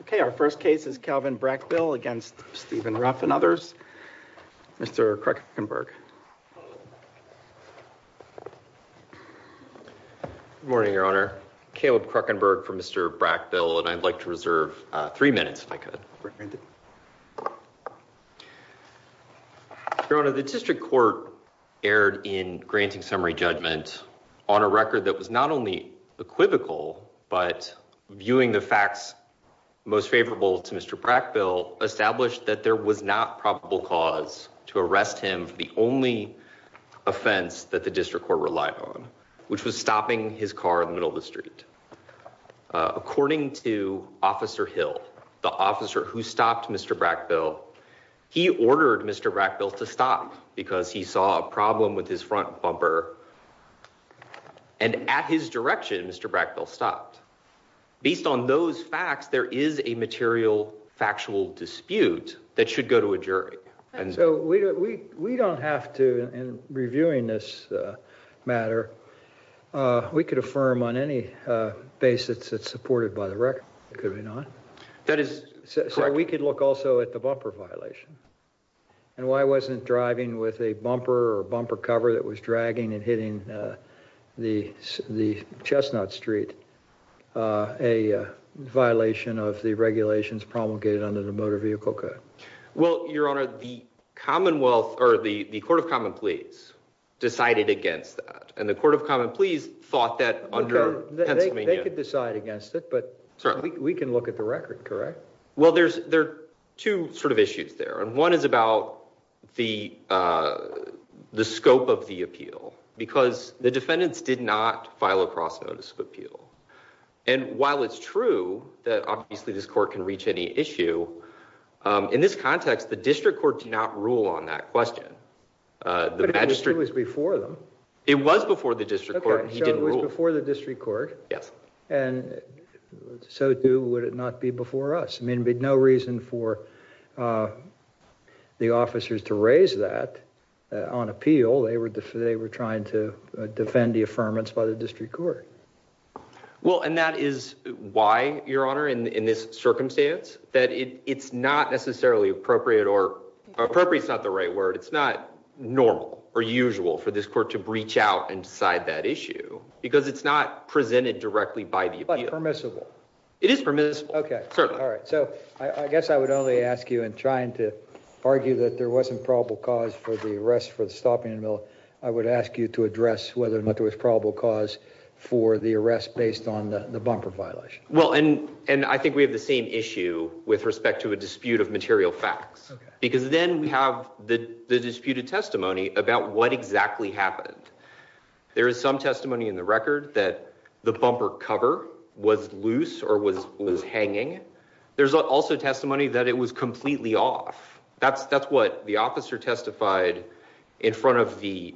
Okay our first case is Calvin Brackbill against Stephen Ruff and others. Mr. Krueckenberg. Good morning your honor. Caleb Krueckenberg for Mr. Brackbill and I'd like to reserve three minutes if I could. Your honor, the district court erred in granting summary judgment on a record that was not only equivocal but viewing the facts most favorable to Mr. Brackbill established that there was not probable cause to arrest him for the only offense that the district court relied on, which was stopping his car in the middle of the street. According to Officer Hill, the officer who stopped Mr. Brackbill, he ordered Mr. Brackbill to stop because he saw a problem with his front bumper and at his direction Mr. Brackbill stopped. Based on those facts there is a material factual dispute that should go to a jury. So we don't have to, in reviewing this matter, we could affirm on any basis it's supported by the record, could we not? That is so we could look also at the bumper violation and why wasn't driving with a bumper or bumper cover that was dragging and hitting the the chestnut street a violation of the regulations promulgated under the motor vehicle code. Well your honor, the commonwealth or the the court of common pleas decided against that and the court of common pleas thought that under Pennsylvania. They could decide against it but certainly we can look at the record, correct? Well there's there two sort of issues there and one is about the scope of the appeal because the defendants did not file a cross notice of appeal and while it's true that obviously this court can reach any issue in this context the district court did not rule on that question. But it was before them. It was before the district court. So it was before the district court and so too would it not be before us? I mean there'd be no reason for the officers to raise that on appeal. They were they were trying to defend the affirmance by the district court. Well and that is why your honor in in this circumstance that it it's not necessarily appropriate or appropriate is not the right word. It's not normal or usual for this court to breach out and decide that issue because it's not So I guess I would only ask you in trying to argue that there wasn't probable cause for the arrest for the stopping and mill. I would ask you to address whether or not there was probable cause for the arrest based on the bumper violation. Well and and I think we have the same issue with respect to a dispute of material facts because then we have the the disputed testimony about what exactly happened. There is some testimony in the record that the bumper cover was loose or was was hanging. There's also testimony that it was completely off. That's that's what the officer testified in front of the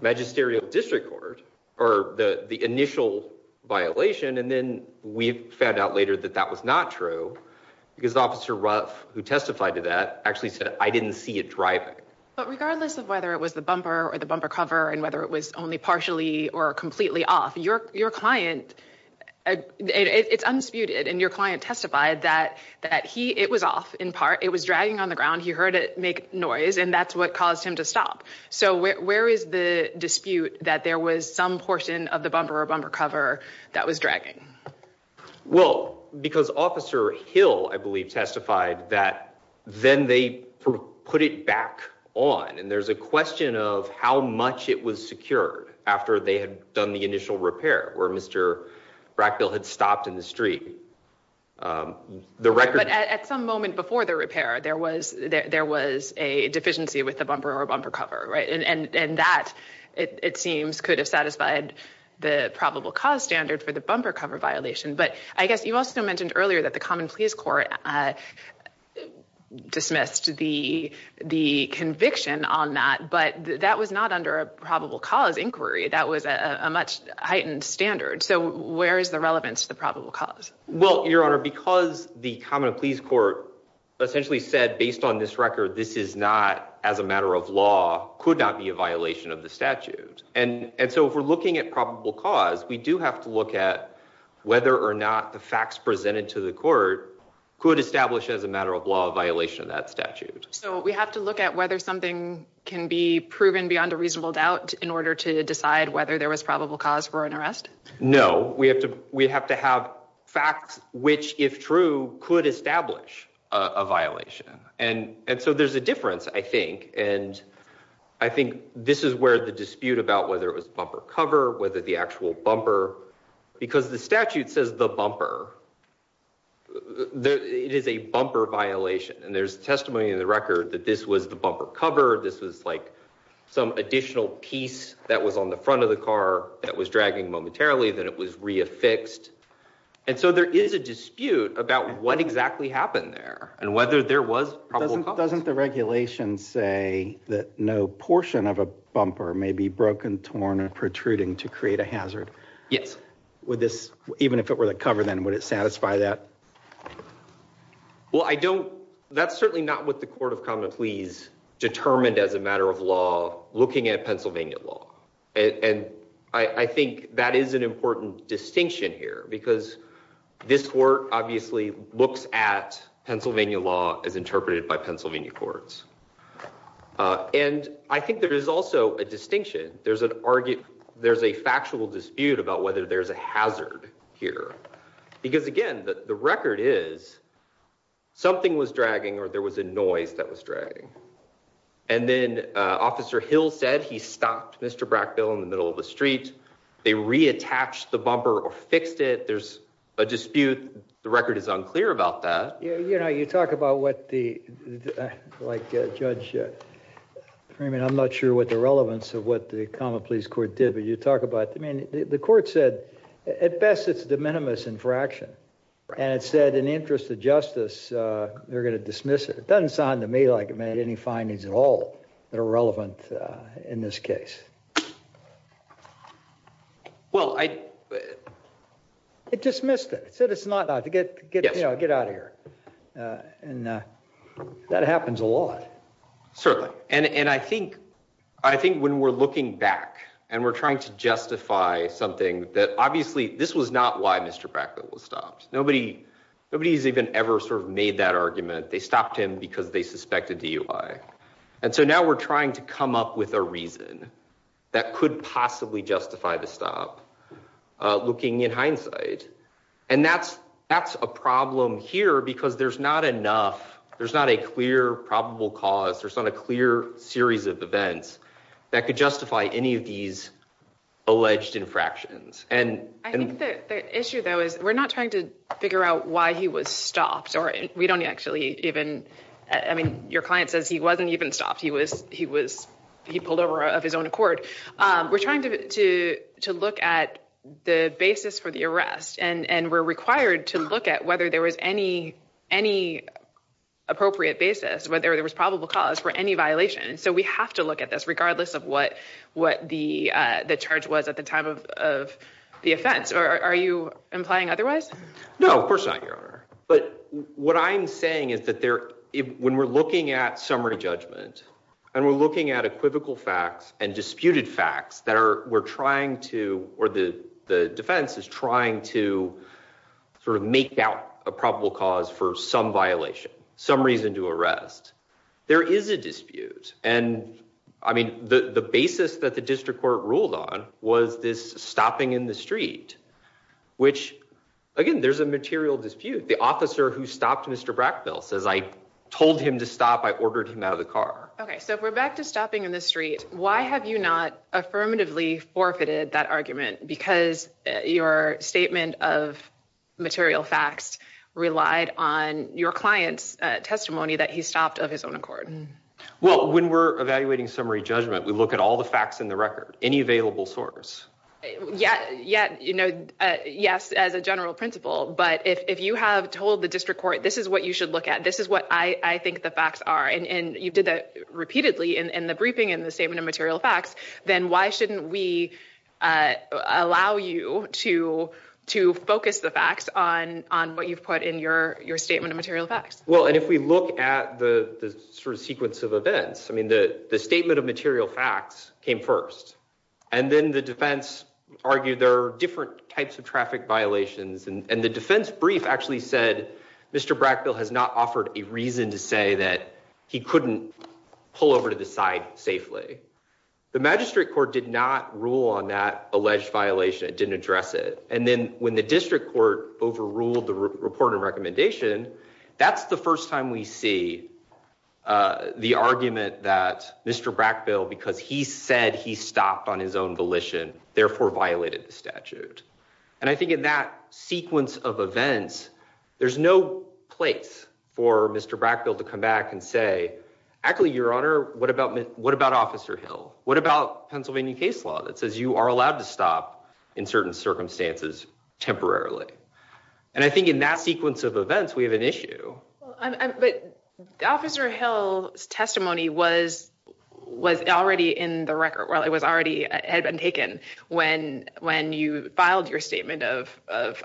magisterial district court or the the initial violation and then we found out later that that was not true because officer Ruff who testified to that actually said I didn't see it driving. But regardless of whether it was the bumper or the bumper cover and whether it was only partially or completely off your your client it's unsputed and your client testified that that he it was off in part it was dragging on the ground he heard it make noise and that's what caused him to stop. So where is the dispute that there was some portion of the bumper or bumper cover that was dragging? Well because officer Hill I believe testified that then they put it back on and there's a they had done the initial repair where Mr. Brackbill had stopped in the street. But at some moment before the repair there was there was a deficiency with the bumper or bumper cover right and and and that it it seems could have satisfied the probable cause standard for the bumper cover violation. But I guess you also mentioned earlier that the common pleas court uh dismissed the the conviction on that but that was not under a probable cause inquiry that was a much heightened standard so where is the relevance to the probable cause? Well your honor because the common pleas court essentially said based on this record this is not as a matter of law could not be a violation of the statute and and so if we're looking at probable cause we do have to look at whether or not the facts presented to the court could establish as a matter of law a violation of that statute. So we have to look at whether something can be proven beyond a reasonable doubt in order to decide whether there was probable cause for an arrest? No we have to we have to have facts which if true could establish a violation and and so there's a difference I think and I think this is where the dispute about whether it was bumper cover whether the actual bumper because the statute says the bumper there it is a bumper violation and there's testimony in the record that this was the bumper cover this was like some additional piece that was on the front of the car that was dragging momentarily that it was re-affixed and so there is a dispute about what exactly happened there and whether there was doesn't the regulation say that no portion of a bumper may be broken torn or protruding to create a hazard? Yes. Would this even if it were the cover then would it satisfy that? Well I don't that's certainly not what the court of common pleas determined as a matter of law looking at Pennsylvania law and and I I think that is an important distinction here because this court obviously looks at Pennsylvania law as interpreted by Pennsylvania courts and I think there is also a distinction there's an argue there's a factual dispute about whether there's a hazard here because again the record is something was dragging or there was a noise that was dragging and then Officer Hill said he stopped Mr. Brackville in the middle of the street they reattached the bumper or fixed it there's a dispute the record is unclear about that. You know you talk about what the like Judge Freeman I'm not sure what the relevance of what the common pleas court did but you talk about I mean the court said at best it's de minimis infraction and it said in the interest of justice they're going to dismiss it. It doesn't sound to me like it made any findings at all that are relevant in this case. Well I it dismissed it it's not to get you know get out of here and that happens a lot. Certainly and and I think I think when we're looking back and we're trying to justify something that obviously this was not why Mr. Brackville was stopped nobody nobody's even ever sort of made that argument they stopped him because they suspected DUI and so now we're trying to come up with a reason that could possibly justify the stop looking in hindsight and that's that's a problem here because there's not enough there's not a clear probable cause there's not a clear series of events that could justify any of these alleged infractions and I think the issue though is we're not trying to figure out why he was stopped or we don't actually even I mean your client says he wasn't even stopped he was he was he pulled over of his own accord we're trying to to to look at the basis for the arrest and and we're required to look at whether there was any any appropriate basis whether there was probable cause for any violation so we have to look at this regardless of what what the uh the charge was at the time of of the offense or are you implying otherwise no of course not your honor but what I'm saying is that there when we're looking at summary judgment and we're looking at equivocal facts and disputed facts that are we're trying to or the the defense is trying to sort of make out a probable cause for some violation some reason to arrest there is a dispute and I mean the the basis that the district court ruled on was this stopping in the street which again there's a material dispute the officer who stopped Mr. Brackbill says I told him to stop I ordered him out of the car okay so if we're back to stopping in the street why have you not affirmatively forfeited that argument because your statement of material facts relied on your client's testimony that he stopped of his own accord well when we're evaluating summary judgment we look at all the facts in the record any available source yeah yeah you know yes as a general principle but if if you have told the district court this is what you should look at this is what I I think the facts are and and you did that repeatedly in in the briefing in the statement of material facts then why shouldn't we uh allow you to to focus the facts on on what you've put in your your statement of material facts well and if we look at the the sort of sequence of events I mean the the statement of material facts came first and then the defense argued there are different types of traffic violations and and the defense brief actually said Mr. Brackbill has not offered a reason to say that he couldn't pull over to the side safely the magistrate court did not rule on that alleged violation it didn't address it and then when the district court overruled the report and recommendation that's the first time we see uh the argument that Mr. Brackbill because he said he stopped on his own volition therefore violated the statute and I think in that sequence of events there's no place for Mr. Brackbill to come back and say actually your honor what about what about Officer Hill what about Pennsylvania case law that says you are allowed to stop in certain circumstances temporarily and I think in that sequence of events we have an issue but Officer Hill's testimony was was already in the when when you filed your statement of of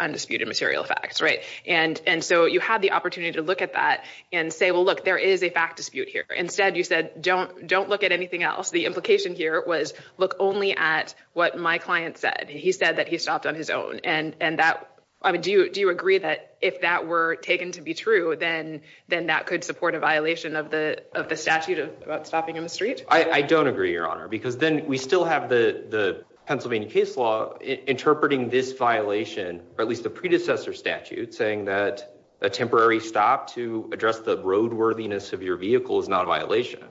undisputed material facts right and and so you had the opportunity to look at that and say well look there is a fact dispute here instead you said don't don't look at anything else the implication here was look only at what my client said he said that he stopped on his own and and that I mean do you do you agree that if that were taken to be true then then that could support a violation of the of the statute of about stopping in the street I I don't agree your honor because then we still have the the Pennsylvania case law interpreting this violation or at least the predecessor statute saying that a temporary stop to address the road worthiness of your vehicle is not a violation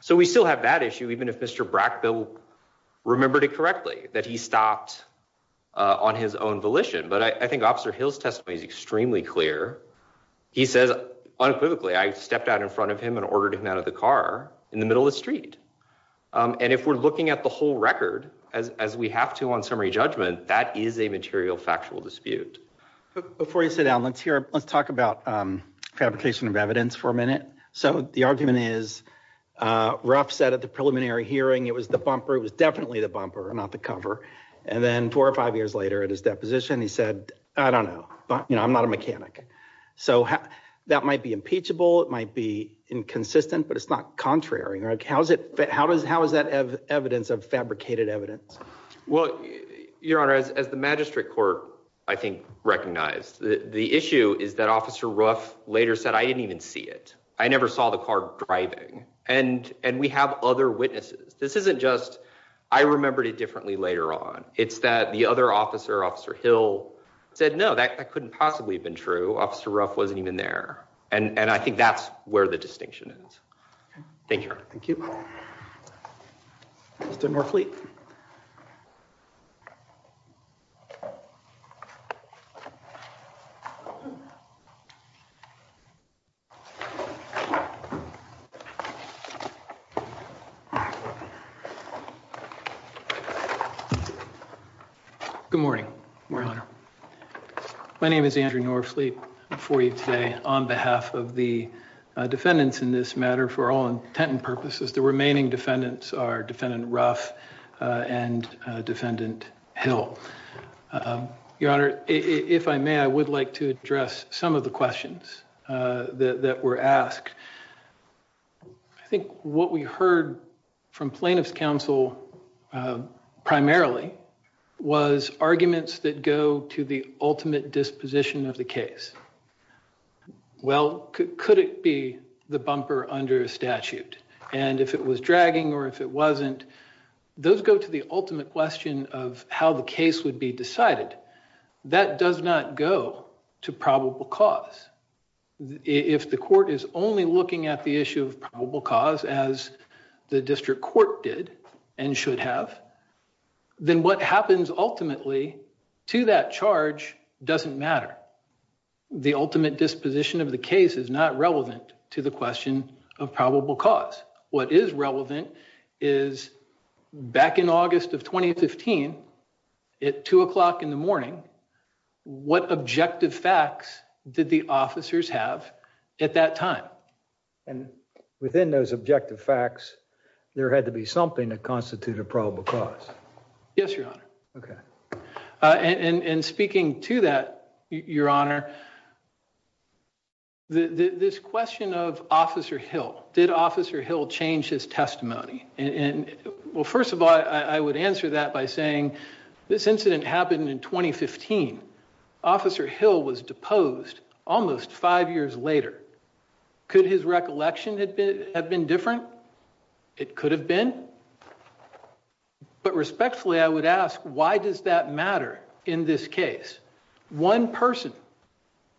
so we still have that issue even if Mr. Brackbill remembered it correctly that he stopped on his own volition but I think Officer Hill's testimony is extremely clear he says unequivocally I stepped out in front of him and ordered him out of the car in the middle of the street and if we're looking at the whole record as as we have to on summary judgment that is a material factual dispute before you sit down let's hear let's talk about fabrication of evidence for a minute so the argument is Ruff said at the preliminary hearing it was the bumper it was definitely the bumper not the cover and then four or five years later at his deposition he said I don't know but you know I'm not a mechanic so that might be impeachable it might be inconsistent but it's not contrary like how's it how does how is that evidence of fabricated evidence well your honor as the magistrate court I think recognized the issue is that Officer Ruff later said I didn't even see it I never saw the car driving and and we have other witnesses this isn't just I remembered it differently later on it's that the other officer Officer Hill said no that couldn't possibly have been true Officer Ruff wasn't even there and and I think that's where the distinction is. Thank you. Thank you. Mr. Norfleet. Good morning, your honor. My name is Andrew Norfleet before you today on behalf of the defendants in this matter for all intent and purposes the remaining defendants are defendant Hill your honor if I may I would like to address some of the questions that were asked I think what we heard from plaintiff's counsel primarily was arguments that go to the ultimate disposition of the case well could it be the bumper under statute and if it was dragging or if it wasn't those go to the ultimate question of how the case would be decided that does not go to probable cause if the court is only looking at the issue of probable cause as the district court did and should have then what happens ultimately to that charge doesn't matter the ultimate disposition of the case is not relevant to the question of probable cause what is relevant is back in august of 2015 at two o'clock in the morning what objective facts did the officers have at that time and within those objective facts there had to be something to constitute a probable cause yes your honor okay uh and and speaking to that your honor the this question of officer hill did officer hill change his testimony and well first of all I I would answer that by saying this incident happened in 2015 officer hill was deposed almost five years later could his recollection had been have been different it could have been different but respectfully I would ask why does that matter in this case one person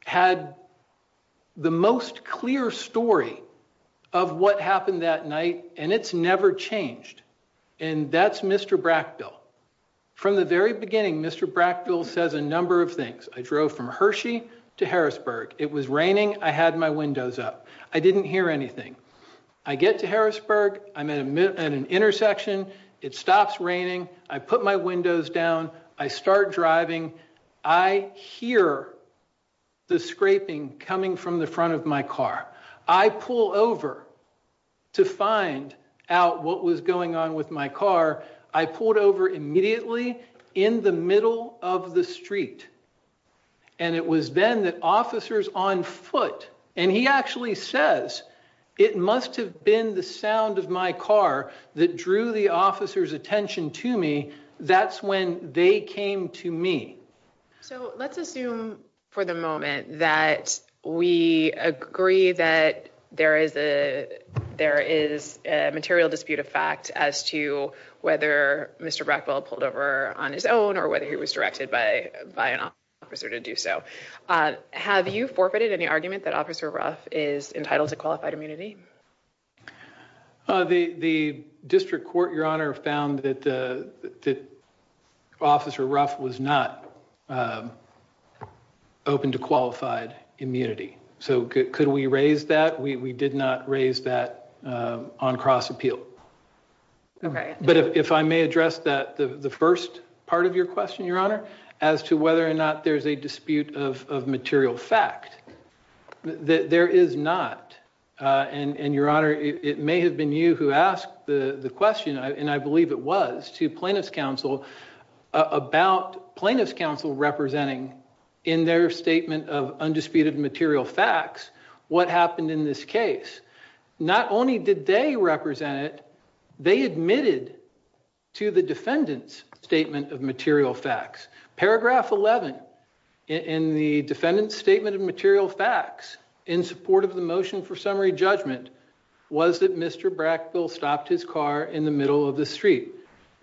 had the most clear story of what happened that night and it's never changed and that's mr brackbill from the very beginning mr brackbill says a number of things I drove from Hershey to Harrisburg it was raining I had my windows up I didn't hear anything I get to Harrisburg I'm at an intersection it stops raining I put my windows down I start driving I hear the scraping coming from the front of my car I pull over to find out what was going on with my car I pulled over immediately in the middle of the street and it was then that officers on foot and he actually says it must have been the sound of my car that drew the officer's attention to me that's when they came to me so let's assume for the moment that we agree that there is a there is a material dispute of fact as to whether Mr. Brackwell pulled over on his own or whether he was directed by by an officer to do so have you forfeited any argument that officer ruff is entitled to qualified immunity the the district court your honor found that the that officer ruff was not open to qualified immunity so could we raise that we we did not raise that on cross appeal okay but if I may address that the the first part of your question your honor as to whether or not there's a dispute of of material fact that there is not uh and and your honor it may have been you who asked the the question I and I believe it was to plaintiff's counsel about plaintiff's counsel representing in their statement of undisputed material facts what happened in this case not only did they represent it they admitted to the defendant's statement of material facts paragraph 11 in the defendant's statement of material facts in support of the motion for summary judgment was that Mr. Brackville stopped his car in the middle of the street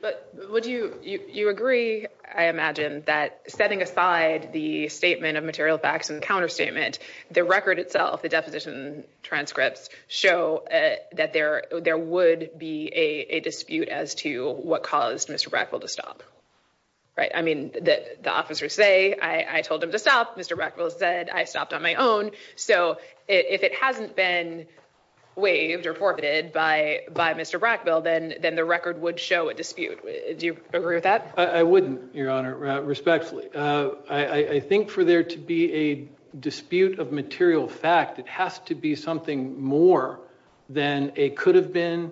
but would you you you agree I imagine that setting aside the statement of material facts and counterstatement the record itself the deposition transcripts show that there there would be a dispute as to what caused Mr. Brackville to stop right I mean that the officers say I I told him to stop Mr. Brackville said I stopped on my own so if it hasn't been waived or forfeited by by Mr. Brackville then then the record would show a dispute do you agree with that I wouldn't your honor respectfully uh I think for there to be a dispute of material fact it has to be something more than a could have been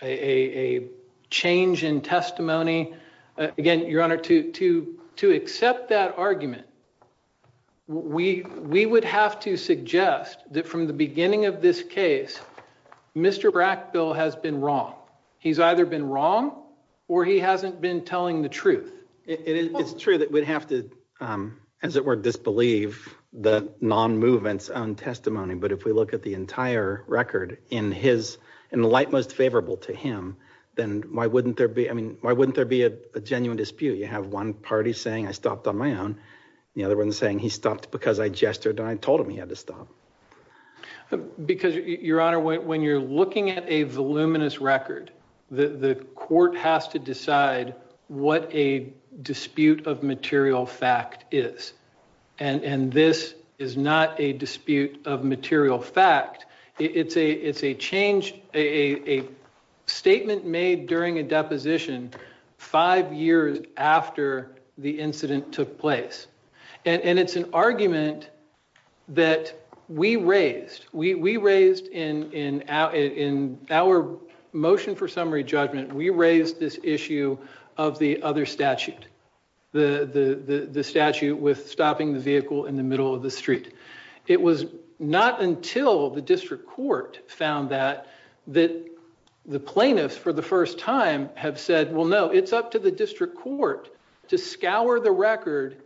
a a change in testimony again your honor to to to accept that argument we we would have to suggest that from the beginning of this case Mr. Brackville has been wrong he's true that we'd have to um as it were disbelieve the non-movement's own testimony but if we look at the entire record in his and the light most favorable to him then why wouldn't there be I mean why wouldn't there be a genuine dispute you have one party saying I stopped on my own the other one saying he stopped because I gestured and I told him he had to stop because your honor when you're looking at a voluminous record the the court has to decide what a dispute of material fact is and and this is not a dispute of material fact it's a it's a change a a statement made during a deposition five years after the incident took place and and it's an argument that we raised we we raised in in in our motion for summary judgment we raised this issue of the other statute the the the statute with stopping the vehicle in the middle of the street it was not until the district court found that that the plaintiffs for the first time have said well no it's up to the district court to scour the record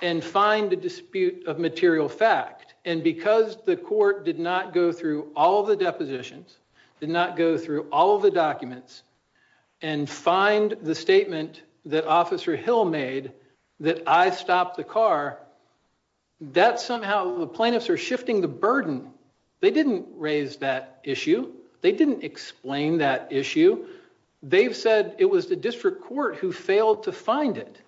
and find a dispute of material fact and because the court did not go through all the depositions did not go through all the documents and find the statement that officer hill made that I stopped the car that somehow the plaintiffs are shifting the burden they didn't raise that issue they didn't explain that issue they've said it was the district court who failed to find it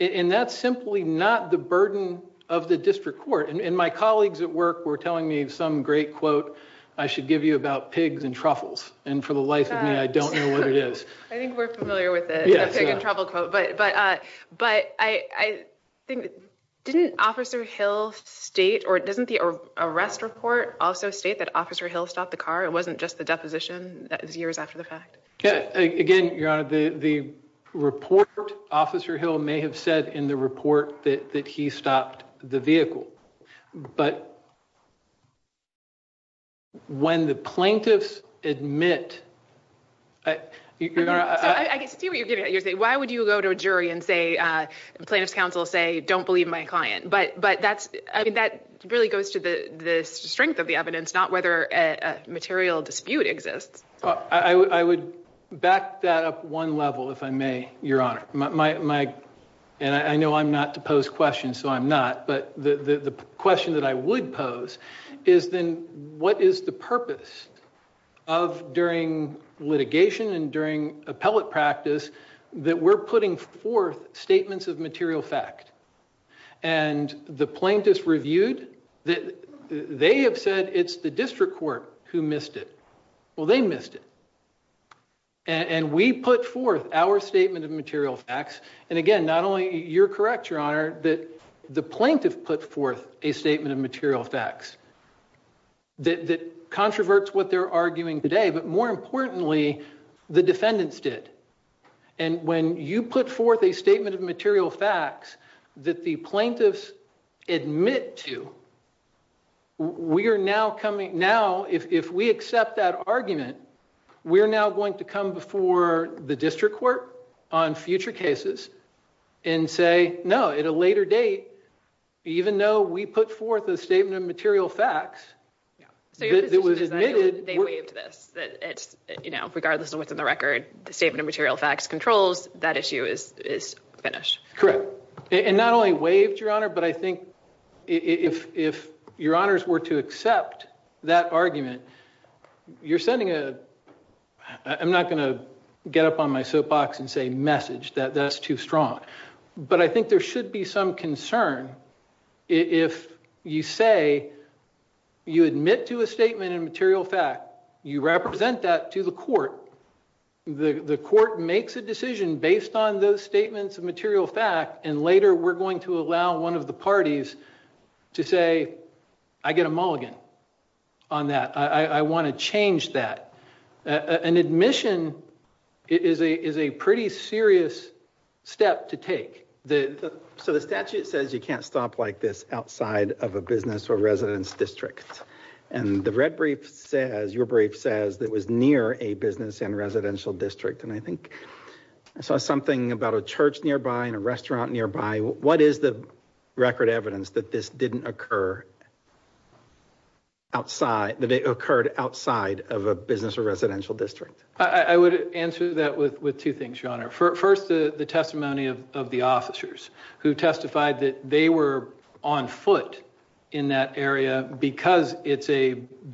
and that's simply not the burden of the district court and my colleagues at work were telling me some great quote I should give you about pigs and truffles and for the life of me I don't know what it is I think we're familiar with it yes but but uh but I I think didn't officer hill state or doesn't the arrest report also state that officer hill stopped the car it wasn't just the deposition that was years after the fact yeah again your honor the the report officer hill may have said in the report that that he stopped the vehicle but when the plaintiffs admit I you know I I can see what you're getting at you're saying why would you go to a jury and say uh plaintiff's counsel say don't believe my client but but that's I mean that really goes to the the strength of the evidence not whether a material dispute exists I would back that up one level if I may your honor my my and I know I'm not to pose questions so I'm not but the the question that I would pose is then what is the purpose of during litigation and during appellate practice that we're putting forth statements of material fact and the plaintiffs reviewed that they have said it's the district court who missed it well they missed it and we put forth our statement of material facts and again not only you're correct your honor that the plaintiff put forth a statement of material facts that that controverts what they're arguing today but more importantly the defendants did and when you put forth a statement of material facts that the plaintiffs admit to we are now coming now if if we accept that argument we're now going to come before the district court on future cases and say no at a later date even though we put forth a statement of material facts that was admitted they waived this that it's you know regardless of what's in the record the statement of material facts controls that issue is is finished correct and not only waived your honor but I think if if your honors were to accept that argument you're sending a I'm not going to get up on my soapbox and say message that that's too strong but I think there should be some concern if you say you admit to a statement in material fact you represent that to the court the the court makes a decision based on those statements of material fact and later we're going to allow one of the parties to say I get a mulligan on that I I want to change that an admission is a is a pretty serious step to take the so the statute says you can't stop like this outside of a business or residence district and the red brief says your brief says that was near a business and residential district and I think I saw something about a church nearby and a restaurant nearby what is the record evidence that this didn't occur outside that they occurred outside of a business or residential district I I would answer that with with two things your honor first the the testimony of of the officers who testified that they were on foot in that area because it's a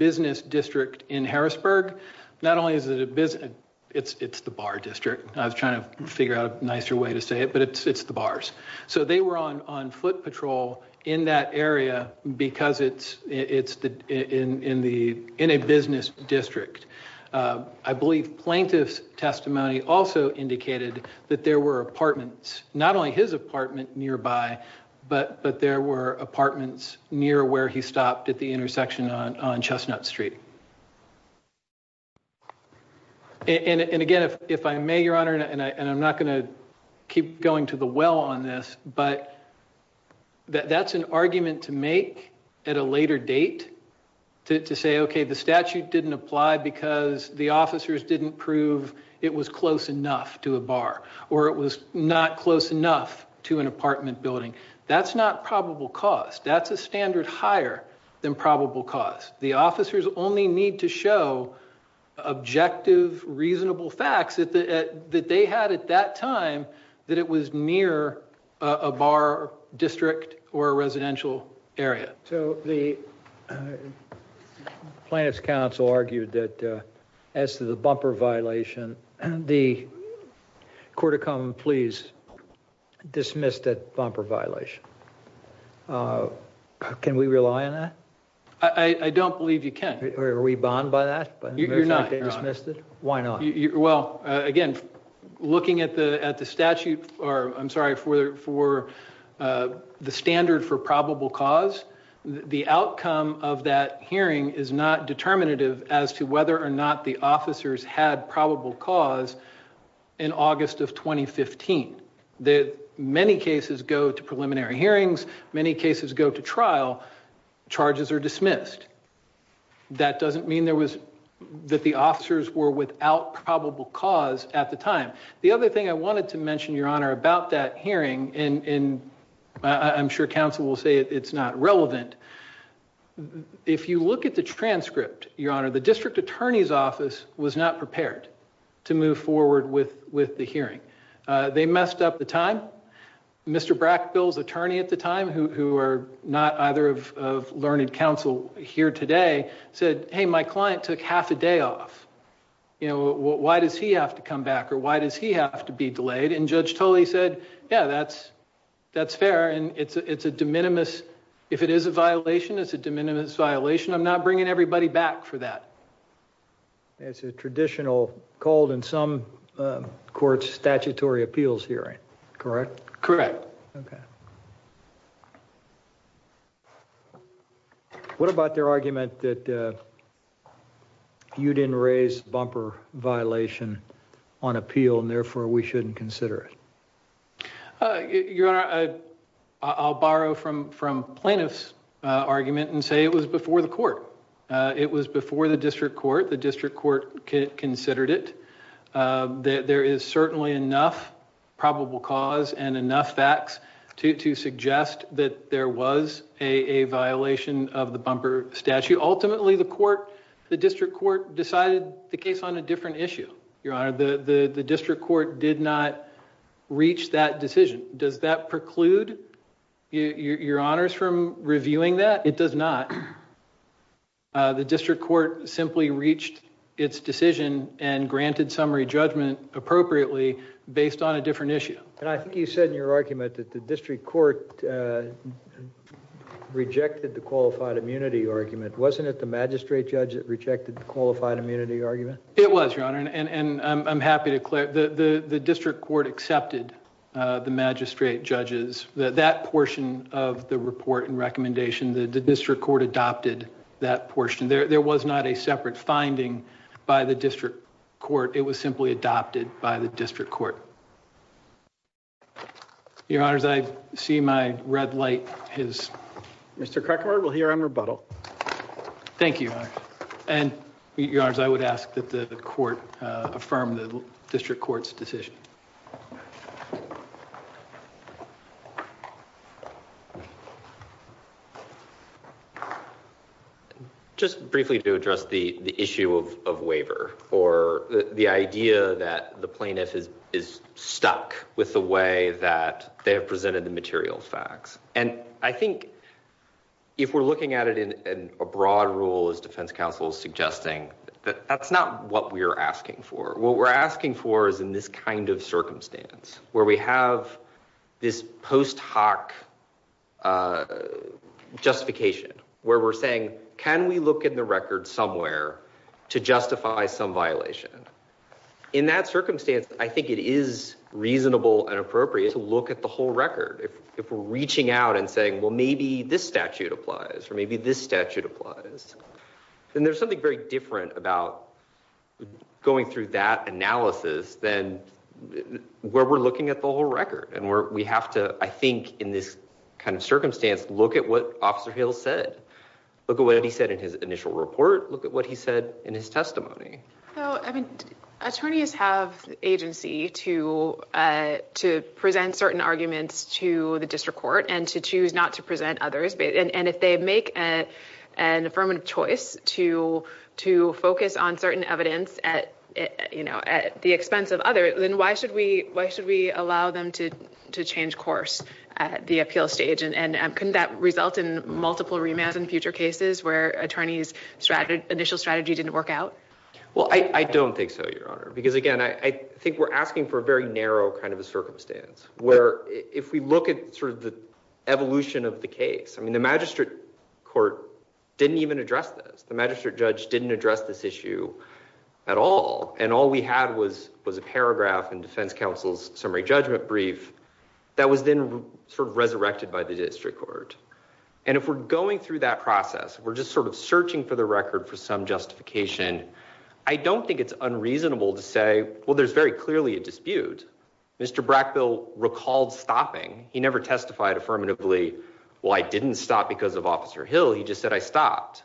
business district in Harrisburg not only is it a business it's it's the bar district I was trying to figure out a nicer way to say it but it's it's the bars so they were on on foot patrol in that area because it's it's the in in the in a business district I believe plaintiff's testimony also indicated that there were apartments not only his apartment nearby but but there were apartments near where he stopped at the intersection on on chestnut street and and again if if I may your honor and I and I'm not going to keep going to the well on this but that that's an argument to make at a later date to say okay the statute didn't apply because the officers didn't prove it was close enough to a bar or it was not close enough to an apartment building that's not probable cause that's a standard higher than probable cause the officers only need to show objective reasonable facts at that they had at that time that it was near a bar district or a residential area so the plaintiff's counsel argued that as to the bumper violation the court of common pleas dismissed that bumper violation uh can we rely on that I I don't believe you can or are we looking at the at the statute or I'm sorry for for uh the standard for probable cause the outcome of that hearing is not determinative as to whether or not the officers had probable cause in August of 2015 that many cases go to preliminary hearings many cases go to trial charges are dismissed that doesn't mean there was that the officers were without probable cause at the time the other thing I wanted to mention your honor about that hearing in in I'm sure counsel will say it's not relevant if you look at the transcript your honor the district attorney's office was not prepared to move forward with with the hearing uh they messed up the time Mr. Brackbill's attorney at the time who who are not either of learned counsel here today said hey my client took half a day off you know why does he have to come back or why does he have to be delayed and Judge Tully said yeah that's that's fair and it's it's a de minimis if it is a violation it's a de minimis violation I'm not bringing everybody back for that it's a traditional called in some courts statutory appeals hearing correct correct okay what about their argument that uh you didn't raise bumper violation on appeal and therefore we shouldn't consider it uh your honor I I'll borrow from from plaintiff's uh argument and say it was before the court uh it was before the district court the district court considered it uh there is certainly enough probable cause and enough facts to to suggest that there was a a violation of the bumper statute ultimately the court the district court decided the case on a different issue your honor the the the district court did not reach that decision does that preclude your honors from reviewing that it does not uh the district court simply reached its decision and granted summary judgment appropriately based on a different issue and I think you said in your argument that the district court uh rejected the qualified immunity argument wasn't it the magistrate judge that rejected the qualified immunity argument it was your honor and and I'm happy to clear the the the district court accepted uh the magistrate judges that that portion of the report and recommendation the district court adopted that portion there there was not a separate finding by the district court it was simply adopted by the district court your honors I see my red light his Mr. Krakauer will hear on rebuttal thank you and your honors I would ask that the court uh affirm the district court's decision just briefly to address the the issue of of waiver or the idea that the plaintiff is is stuck with the way that they have presented the material facts and I think if we're looking at it in a broad rule as defense counsel is suggesting that that's not what we're asking for what we're asking for is this kind of circumstance where we have this post hoc uh justification where we're saying can we look in the record somewhere to justify some violation in that circumstance I think it is reasonable and appropriate to look at the whole record if if we're reaching out and saying well maybe this statute applies or maybe this statute applies then there's something very about going through that analysis then where we're looking at the whole record and where we have to I think in this kind of circumstance look at what officer hill said look at what he said in his initial report look at what he said in his testimony so I mean attorneys have agency to uh to present certain arguments to the district court and to choose not to present others and if they make a an affirmative choice to to focus on certain evidence at you know at the expense of others then why should we why should we allow them to to change course at the appeal stage and and couldn't that result in multiple remands in future cases where attorneys strategy initial strategy didn't work out well I I don't think so your honor because again I I think we're asking for a very narrow kind of a circumstance where if we look at sort of the evolution of the case I mean the court didn't even address this the magistrate judge didn't address this issue at all and all we had was was a paragraph in defense counsel's summary judgment brief that was then sort of resurrected by the district court and if we're going through that process we're just sort of searching for the record for some justification I don't think it's unreasonable to say well there's very clearly a dispute Mr. Brackbill recalled stopping he never testified affirmatively well I didn't stop because of officer hill he just said I stopped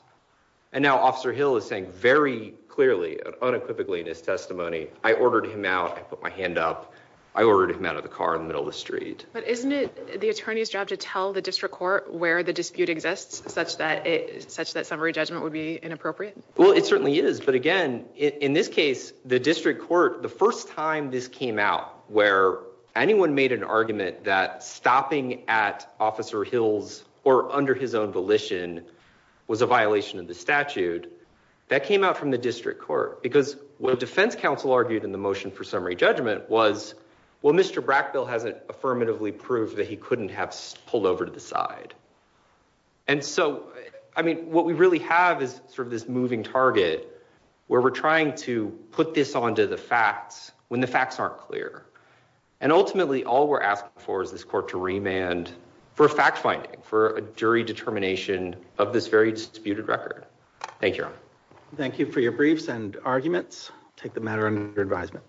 and now officer hill is saying very clearly unequivocally in his testimony I ordered him out I put my hand up I ordered him out of the car in the middle of the street but isn't it the attorney's job to tell the district court where the dispute exists such that it such that summary judgment would be inappropriate well it certainly is but again in this case the district court the first time this came out where anyone made an argument that stopping at officer hill's or under his own volition was a violation of the statute that came out from the district court because what defense counsel argued in the motion for summary judgment was well Mr. Brackbill hasn't affirmatively proved that he couldn't have pulled over to the side and so I mean what we really have is sort of this clear and ultimately all we're asking for is this court to remand for fact finding for a jury determination of this very disputed record thank you thank you for your briefs and arguments take the matter under advisement